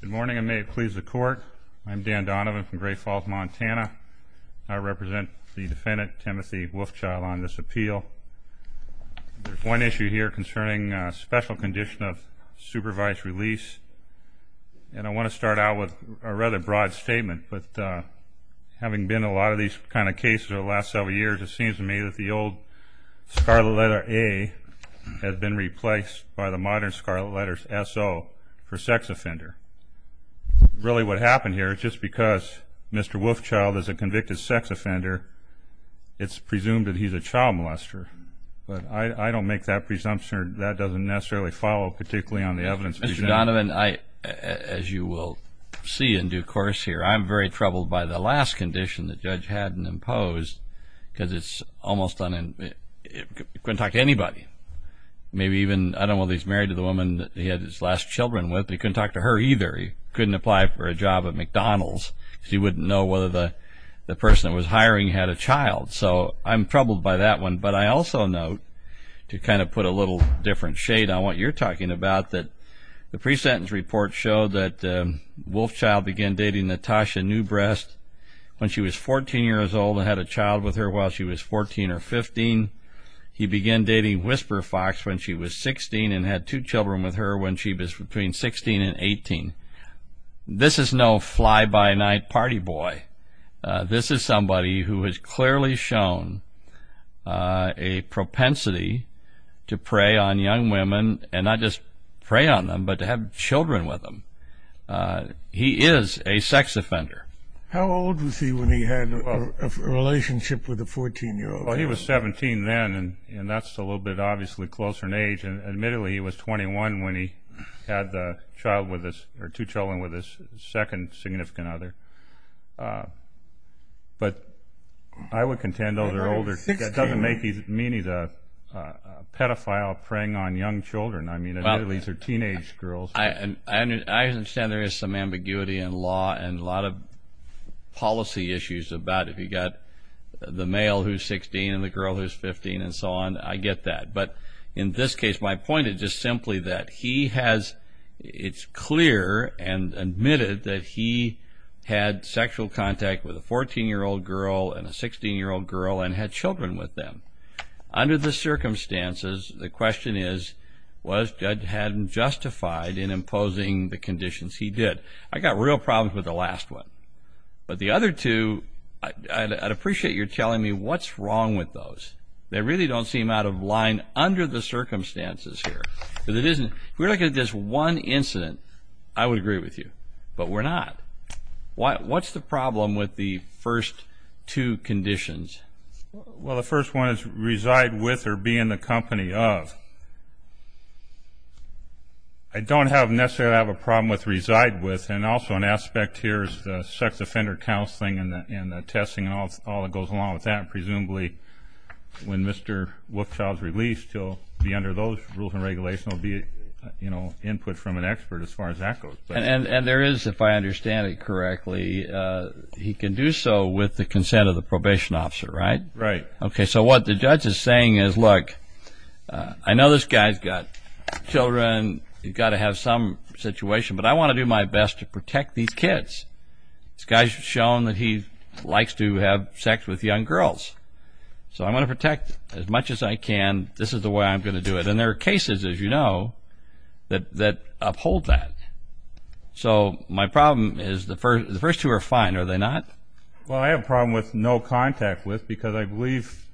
Good morning, and may it please the court. I'm Dan Donovan from Great Falls, Montana. I represent the defendant, Timothy Wolf Child, on this appeal. There's one issue here concerning a special condition of supervised release, and I want to start out with a rather broad statement, but having been in a lot of these kinds of cases over the last several years, it seems to me that the old scarlet letter A has been replaced by the modern scarlet letter SO for sex offender. Really what happened here is just because Mr. Wolf Child is a convicted sex offender, it's presumed that he's a child molester. But I don't make that presumption or that doesn't necessarily follow, particularly on the evidence presented. Mr. Donovan, as you will see in due course here, I'm very troubled by the last condition the judge hadn't imposed because he couldn't talk to anybody. I don't know if he's married to the woman he had his last children with, but he couldn't talk to her either. He couldn't apply for a job at McDonald's because he wouldn't know whether the person that was hiring had a child. So I'm troubled by that one, but I also note, to kind of put a little different shade on what you're talking about, that the pre-sentence report showed that Wolf Child began dating Natasha Newbrest when she was 14 years old and had a child with her while she was 14 or 15. He began dating Whisper Fox when she was 16 and had two children with her when she was between 16 and 18. This is no fly-by-night party boy. This is somebody who has clearly shown a propensity to prey on young women and not just prey on them but to have children with them. He is a sex offender. How old was he when he had a relationship with a 14-year-old? He was 17 then, and that's a little bit, obviously, closer in age. Admittedly, he was 21 when he had two children with his second significant other. But I would contend those are older. That doesn't mean he's a pedophile preying on young children. I mean, admittedly, these are teenage girls. I understand there is some ambiguity in law and a lot of policy issues about if you've got the male who's 16 and the girl who's 15 and so on. I get that. But in this case, my point is just simply that he has, it's clear and admitted, that he had sexual contact with a 14-year-old girl and a 16-year-old girl and had children with them. Under the circumstances, the question is, was Judge Haddon justified in imposing the conditions? He did. I've got real problems with the last one. But the other two, I'd appreciate your telling me what's wrong with those. They really don't seem out of line under the circumstances here. If we're looking at this one incident, I would agree with you, but we're not. What's the problem with the first two conditions? Well, the first one is reside with or be in the company of. I don't necessarily have a problem with reside with, and also an aspect here is the sex offender counseling and the testing and all that goes along with that. Presumably, when Mr. Wolfchild is released, he'll be under those rules and regulations. He'll be input from an expert as far as that goes. And there is, if I understand it correctly, he can do so with the consent of the probation officer, right? Right. Okay, so what the judge is saying is, look, I know this guy's got children. He's got to have some situation, but I want to do my best to protect these kids. This guy's shown that he likes to have sex with young girls. So I'm going to protect as much as I can. This is the way I'm going to do it. And there are cases, as you know, that uphold that. So my problem is, the first two are fine, are they not? Well, I have a problem with no contact with because I believe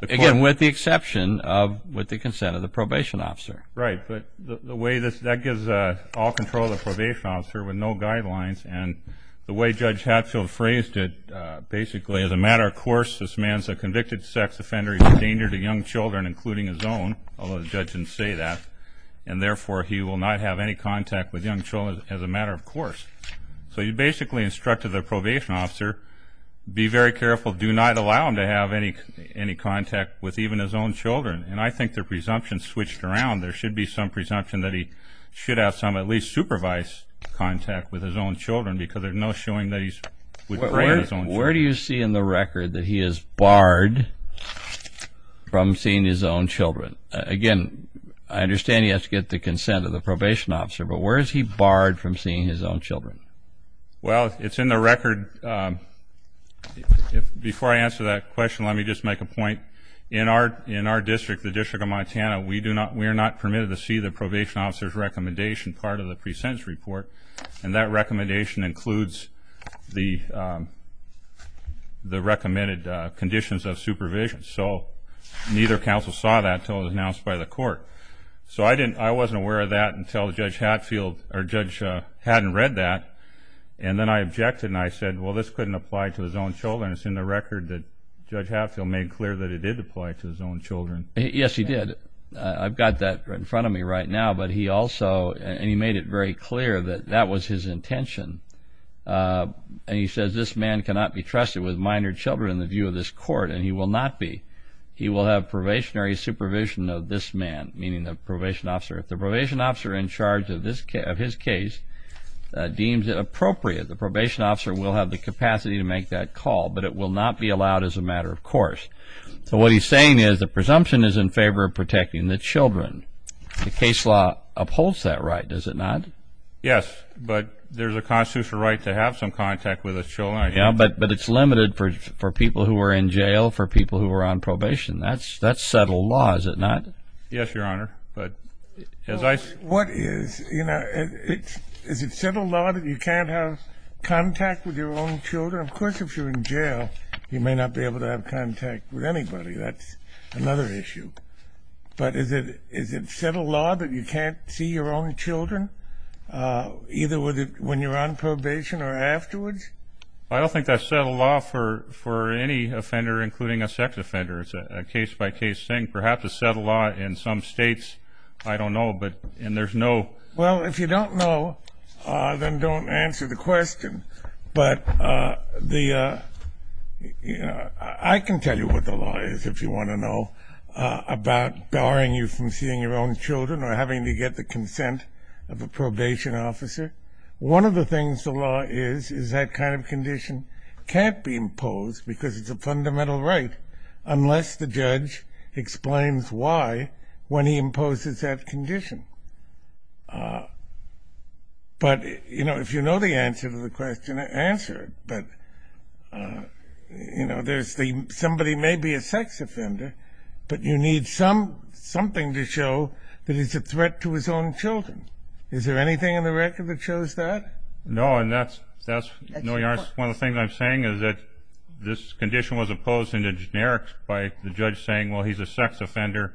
the court Again, with the exception of with the consent of the probation officer. Right, but that gives all control to the probation officer with no guidelines. And the way Judge Hatfield phrased it, basically, as a matter of course, this man's a convicted sex offender. He's a danger to young children, including his own, although the judge didn't say that. And therefore, he will not have any contact with young children as a matter of course. So he basically instructed the probation officer, be very careful, do not allow him to have any contact with even his own children. And I think the presumption switched around. There should be some presumption that he should have some, at least supervised, contact with his own children because there's no showing that he's Where do you see in the record that he is barred from seeing his own children? Again, I understand he has to get the consent of the probation officer. But where is he barred from seeing his own children? Well, it's in the record. Before I answer that question, let me just make a point. In our district, the District of Montana, we are not permitted to see the probation officer's recommendation part of the pre-sentence report. And that recommendation includes the recommended conditions of supervision. So neither counsel saw that until it was announced by the court. So I wasn't aware of that until Judge Hadfield or Judge Haddon read that. And then I objected and I said, well, this couldn't apply to his own children. It's in the record that Judge Hadfield made clear that it did apply to his own children. Yes, he did. I've got that in front of me right now. And he made it very clear that that was his intention. And he says, this man cannot be trusted with minor children in the view of this court and he will not be. He will have probationary supervision of this man, meaning the probation officer. If the probation officer in charge of his case deems it appropriate, the probation officer will have the capacity to make that call, but it will not be allowed as a matter of course. So what he's saying is the presumption is in favor of protecting the children. The case law upholds that right, does it not? Yes, but there's a constitutional right to have some contact with the children. But it's limited for people who are in jail, for people who are on probation. That's settled law, is it not? Yes, Your Honor. What is? Is it settled law that you can't have contact with your own children? Of course, if you're in jail, you may not be able to have contact with anybody. That's another issue. But is it settled law that you can't see your own children either when you're on probation or afterwards? I don't think that's settled law for any offender, including a sex offender. It's a case-by-case thing. Perhaps it's settled law in some states. I don't know, but there's no. Well, if you don't know, then don't answer the question. But I can tell you what the law is, if you want to know, about barring you from seeing your own children or having to get the consent of a probation officer. One of the things the law is is that kind of condition can't be imposed because it's a fundamental right unless the judge explains why when he imposes that condition. But if you know the answer to the question, answer it. But somebody may be a sex offender, but you need something to show that it's a threat to his own children. Is there anything in the record that shows that? No, and that's one of the things I'm saying, is that this condition was opposed in the generics by the judge saying, well, he's a sex offender,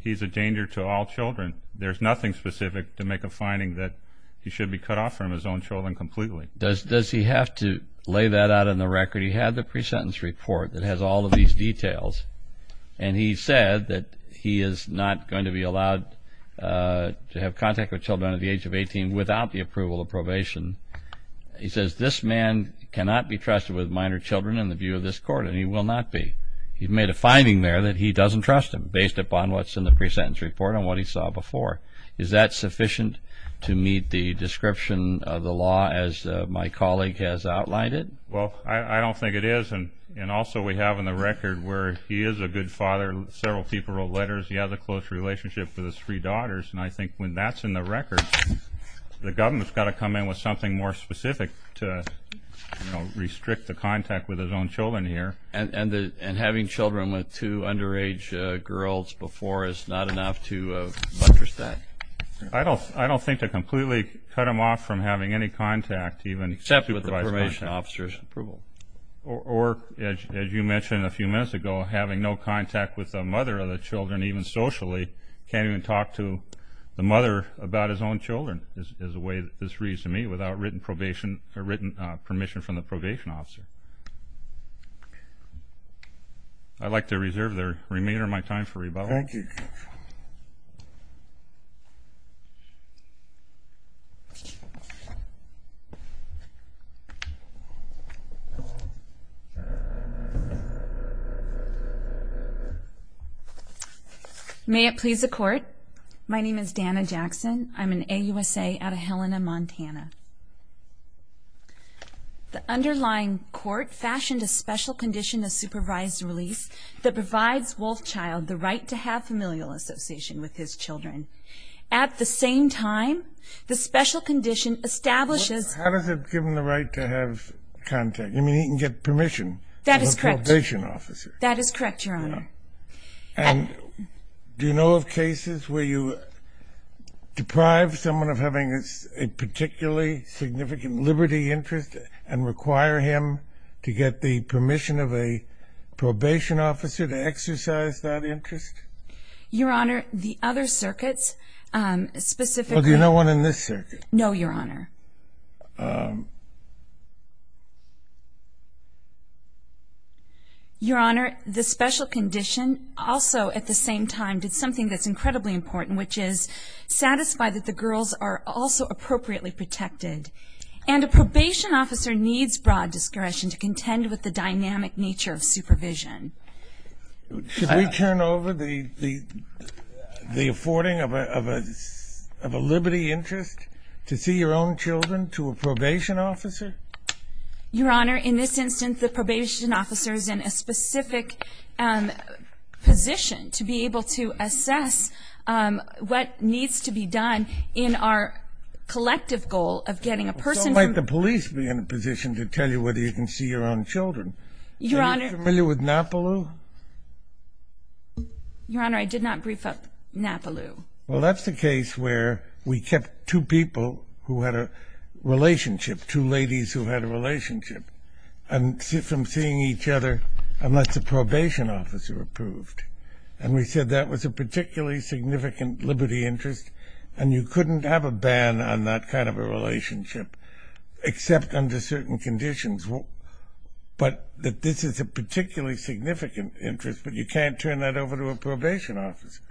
he's a danger to all children. There's nothing specific to make a finding that he should be cut off from his own children completely. Does he have to lay that out in the record? He had the pre-sentence report that has all of these details, and he said that he is not going to be allowed to have contact with children under the age of 18 without the approval of probation. He says this man cannot be trusted with minor children in the view of this court, and he will not be. He made a finding there that he doesn't trust him based upon what's in the pre-sentence report and what he saw before. Is that sufficient to meet the description of the law as my colleague has outlined it? Well, I don't think it is, and also we have in the record where he is a good father, several people wrote letters, he has a close relationship with his three daughters, and I think when that's in the record, the government's got to come in with something more specific to, you know, restrict the contact with his own children here. And having children with two underage girls before is not enough to buttress that? I don't think to completely cut him off from having any contact, except with the probation officer's approval. Or, as you mentioned a few minutes ago, having no contact with the mother of the children, even socially, can't even talk to the mother about his own children is the way this reads to me, without written permission from the probation officer. I'd like to reserve the remainder of my time for rebuttal. Thank you. May it please the Court. My name is Dana Jackson. I'm an AUSA out of Helena, Montana. The underlying court fashioned a special condition of supervised release that provides Wolfchild the right to have familial association with his children. At the same time, the special condition establishes How does it give him the right to have contact? You mean he can get permission from the probation officer? That is correct, Your Honor. And do you know of cases where you deprive someone of having a particularly significant liberty interest and require him to get the permission of a probation officer to exercise that interest? Your Honor, the other circuits specifically Well, do you know one in this circuit? No, Your Honor. Your Honor, the special condition also, at the same time, did something that's incredibly important, which is satisfy that the girls are also appropriately protected. And a probation officer needs broad discretion to contend with the dynamic nature of supervision. Should we turn over the affording of a liberty interest to see your own children to a probation officer? Your Honor, in this instance, the probation officer is in a specific position to be able to assess what needs to be done in our collective goal of getting a person So might the police be in a position to tell you whether you can see your own children? Your Honor Are you familiar with NAPALU? Your Honor, I did not brief up NAPALU. Well, that's the case where we kept two people who had a relationship, two ladies who had a relationship, from seeing each other unless a probation officer approved. And we said that was a particularly significant liberty interest, and you couldn't have a ban on that kind of a relationship except under certain conditions. But this is a particularly significant interest, but you can't turn that over to a probation officer,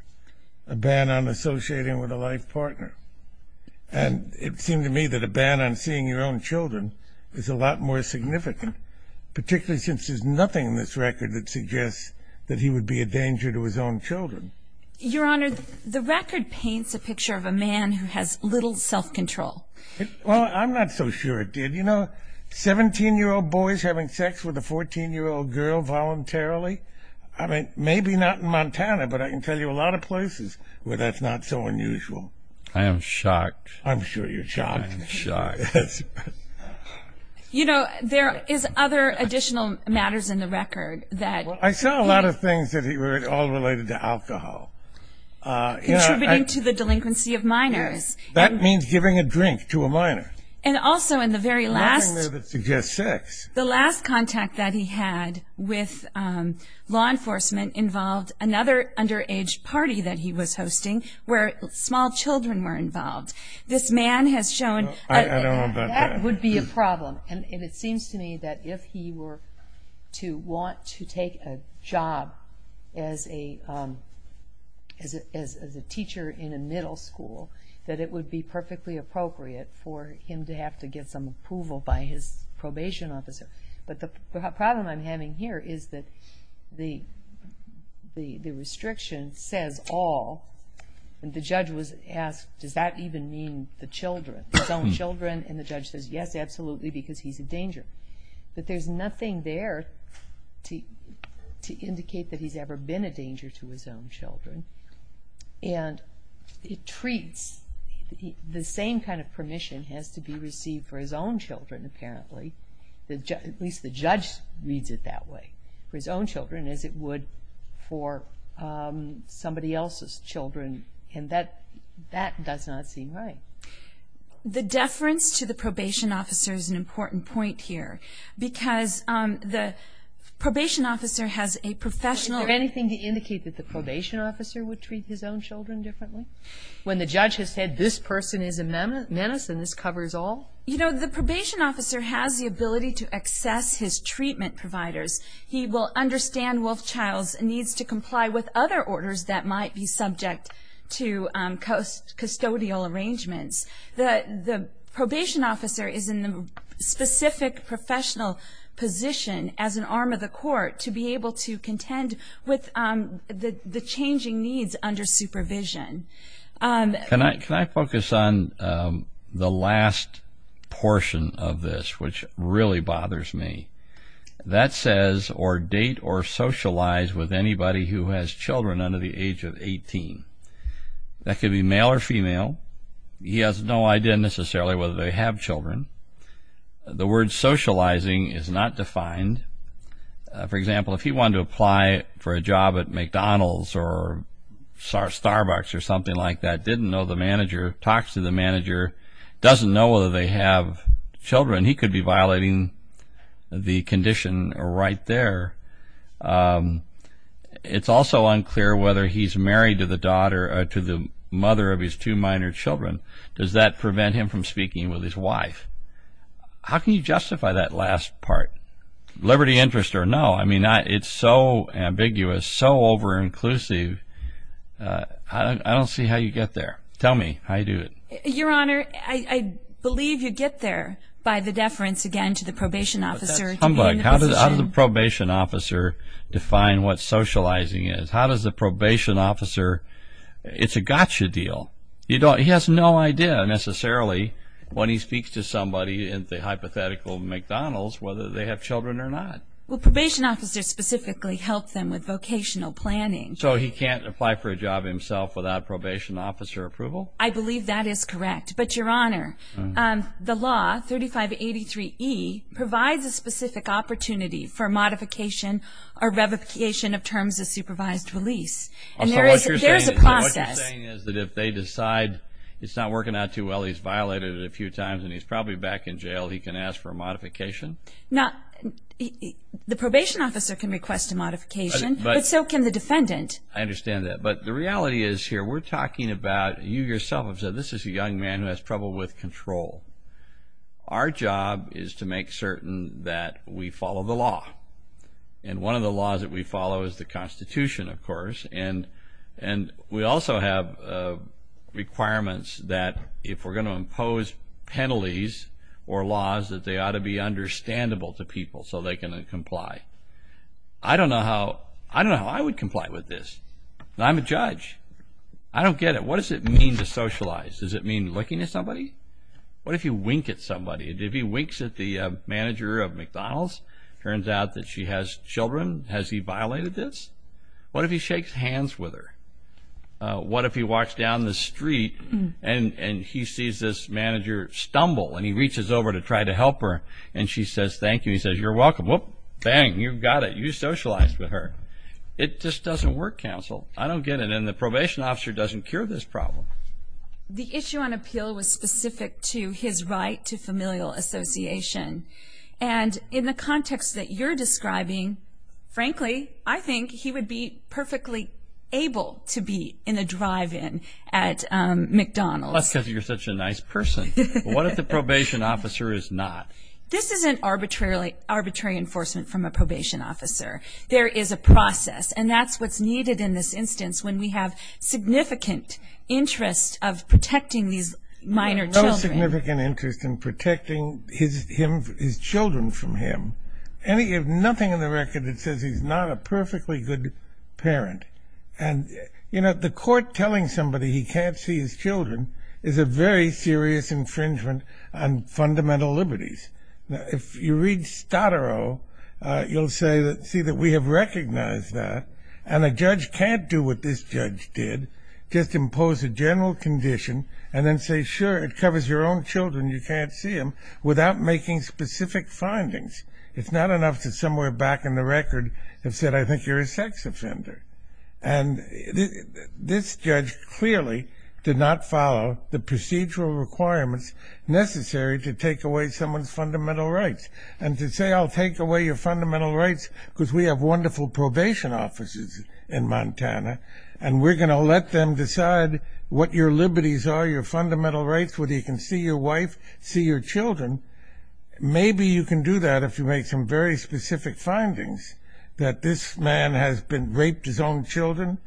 a ban on associating with a life partner. And it seemed to me that a ban on seeing your own children is a lot more significant, particularly since there's nothing in this record that suggests that he would be a danger to his own children. Your Honor, the record paints a picture of a man who has little self-control. Well, I'm not so sure it did. You know, 17-year-old boys having sex with a 14-year-old girl voluntarily? I mean, maybe not in Montana, but I can tell you a lot of places where that's not so unusual. I am shocked. I'm sure you're shocked. I am shocked. You know, there is other additional matters in the record that he – Well, I saw a lot of things that were all related to alcohol. Contributing to the delinquency of minors. That means giving a drink to a minor. And also in the very last – Nothing there that suggests sex. The last contact that he had with law enforcement involved another underage party that he was hosting where small children were involved. This man has shown – I don't know about that. That would be a problem. And it seems to me that if he were to want to take a job as a teacher in a middle school, that it would be perfectly appropriate for him to have to get some approval by his probation officer. But the problem I'm having here is that the restriction says all. And the judge was asked, does that even mean the children, his own children? And the judge says, yes, absolutely, because he's a danger. But there's nothing there to indicate that he's ever been a danger to his own children. And it treats – the same kind of permission has to be received for his own children, apparently. At least the judge reads it that way. For his own children, as it would for somebody else's children. And that does not seem right. The deference to the probation officer is an important point here. Because the probation officer has a professional – Is there anything to indicate that the probation officer would treat his own children differently? When the judge has said, this person is a menace and this covers all? You know, the probation officer has the ability to access his treatment providers. He will understand Wolfchild's needs to comply with other orders that might be subject to custodial arrangements. The probation officer is in the specific professional position as an arm of the court to be able to contend with the changing needs under supervision. Can I focus on the last portion of this, which really bothers me? That says, or date or socialize with anybody who has children under the age of 18. That could be male or female. He has no idea necessarily whether they have children. The word socializing is not defined. For example, if he wanted to apply for a job at McDonald's or Starbucks or something like that, didn't know the manager, talks to the manager, doesn't know whether they have children, he could be violating the condition right there. It's also unclear whether he's married to the mother of his two minor children. Does that prevent him from speaking with his wife? How can you justify that last part? Liberty interest or no? I mean, it's so ambiguous, so over-inclusive, I don't see how you get there. Tell me how you do it. Your Honor, I believe you get there by the deference, again, to the probation officer. How does the probation officer define what socializing is? How does the probation officer? It's a gotcha deal. He has no idea necessarily when he speaks to somebody in the hypothetical McDonald's whether they have children or not. Well, probation officers specifically help them with vocational planning. So he can't apply for a job himself without probation officer approval? I believe that is correct. But, Your Honor, the law, 3583E, provides a specific opportunity for modification or revocation of terms of supervised release. And there is a process. So what you're saying is that if they decide it's not working out too well, he's violated it a few times and he's probably back in jail, he can ask for a modification? Now, the probation officer can request a modification, but so can the defendant. I understand that. But the reality is here we're talking about, you yourself have said, this is a young man who has trouble with control. Our job is to make certain that we follow the law. And one of the laws that we follow is the Constitution, of course. And we also have requirements that if we're going to impose penalties or laws, that they ought to be understandable to people so they can comply. I don't know how I would comply with this. I'm a judge. I don't get it. What does it mean to socialize? Does it mean looking at somebody? What if you wink at somebody? If he winks at the manager of McDonald's, it turns out that she has children, has he violated this? What if he shakes hands with her? What if he walks down the street and he sees this manager stumble and he reaches over to try to help her and she says, thank you. He says, you're welcome. Bang, you've got it. You socialized with her. It just doesn't work, counsel. I don't get it. And the probation officer doesn't cure this problem. The issue on appeal was specific to his right to familial association. And in the context that you're describing, frankly, I think he would be perfectly able to be in a drive-in at McDonald's. That's because you're such a nice person. What if the probation officer is not? This isn't arbitrary enforcement from a probation officer. There is a process, and that's what's needed in this instance when we have significant interest of protecting these minor children. There's no significant interest in protecting his children from him. You have nothing in the record that says he's not a perfectly good parent. And, you know, the court telling somebody he can't see his children is a very serious infringement on fundamental liberties. If you read Stottero, you'll see that we have recognized that, and a judge can't do what this judge did, just impose a general condition and then say, sure, it covers your own children, you can't see them, without making specific findings. It's not enough to somewhere back in the record have said, I think you're a sex offender. And this judge clearly did not follow the procedural requirements necessary to take away someone's fundamental rights. And to say, I'll take away your fundamental rights because we have wonderful probation officers in Montana, and we're going to let them decide what your liberties are, your fundamental rights, whether you can see your wife, see your children, maybe you can do that if you make some very specific findings that this man has raped his own children,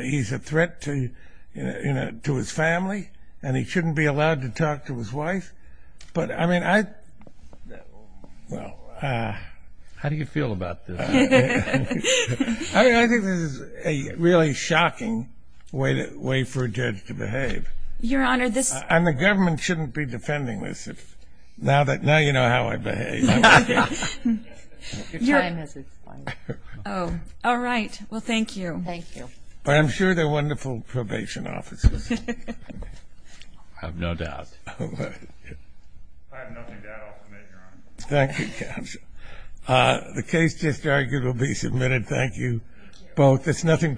he's a threat to his family, and he shouldn't be allowed to talk to his wife. But, I mean, I... How do you feel about this? I think this is a really shocking way for a judge to behave. Your Honor, this... And the government shouldn't be defending this. Now you know how I behave. Your time has expired. All right. Well, thank you. Thank you. But I'm sure they're wonderful probation officers. I have no doubt. I have nothing to add. I'll submit, Your Honor. Thank you, Counsel. The case just argued will be submitted. Thank you both. It's nothing personal.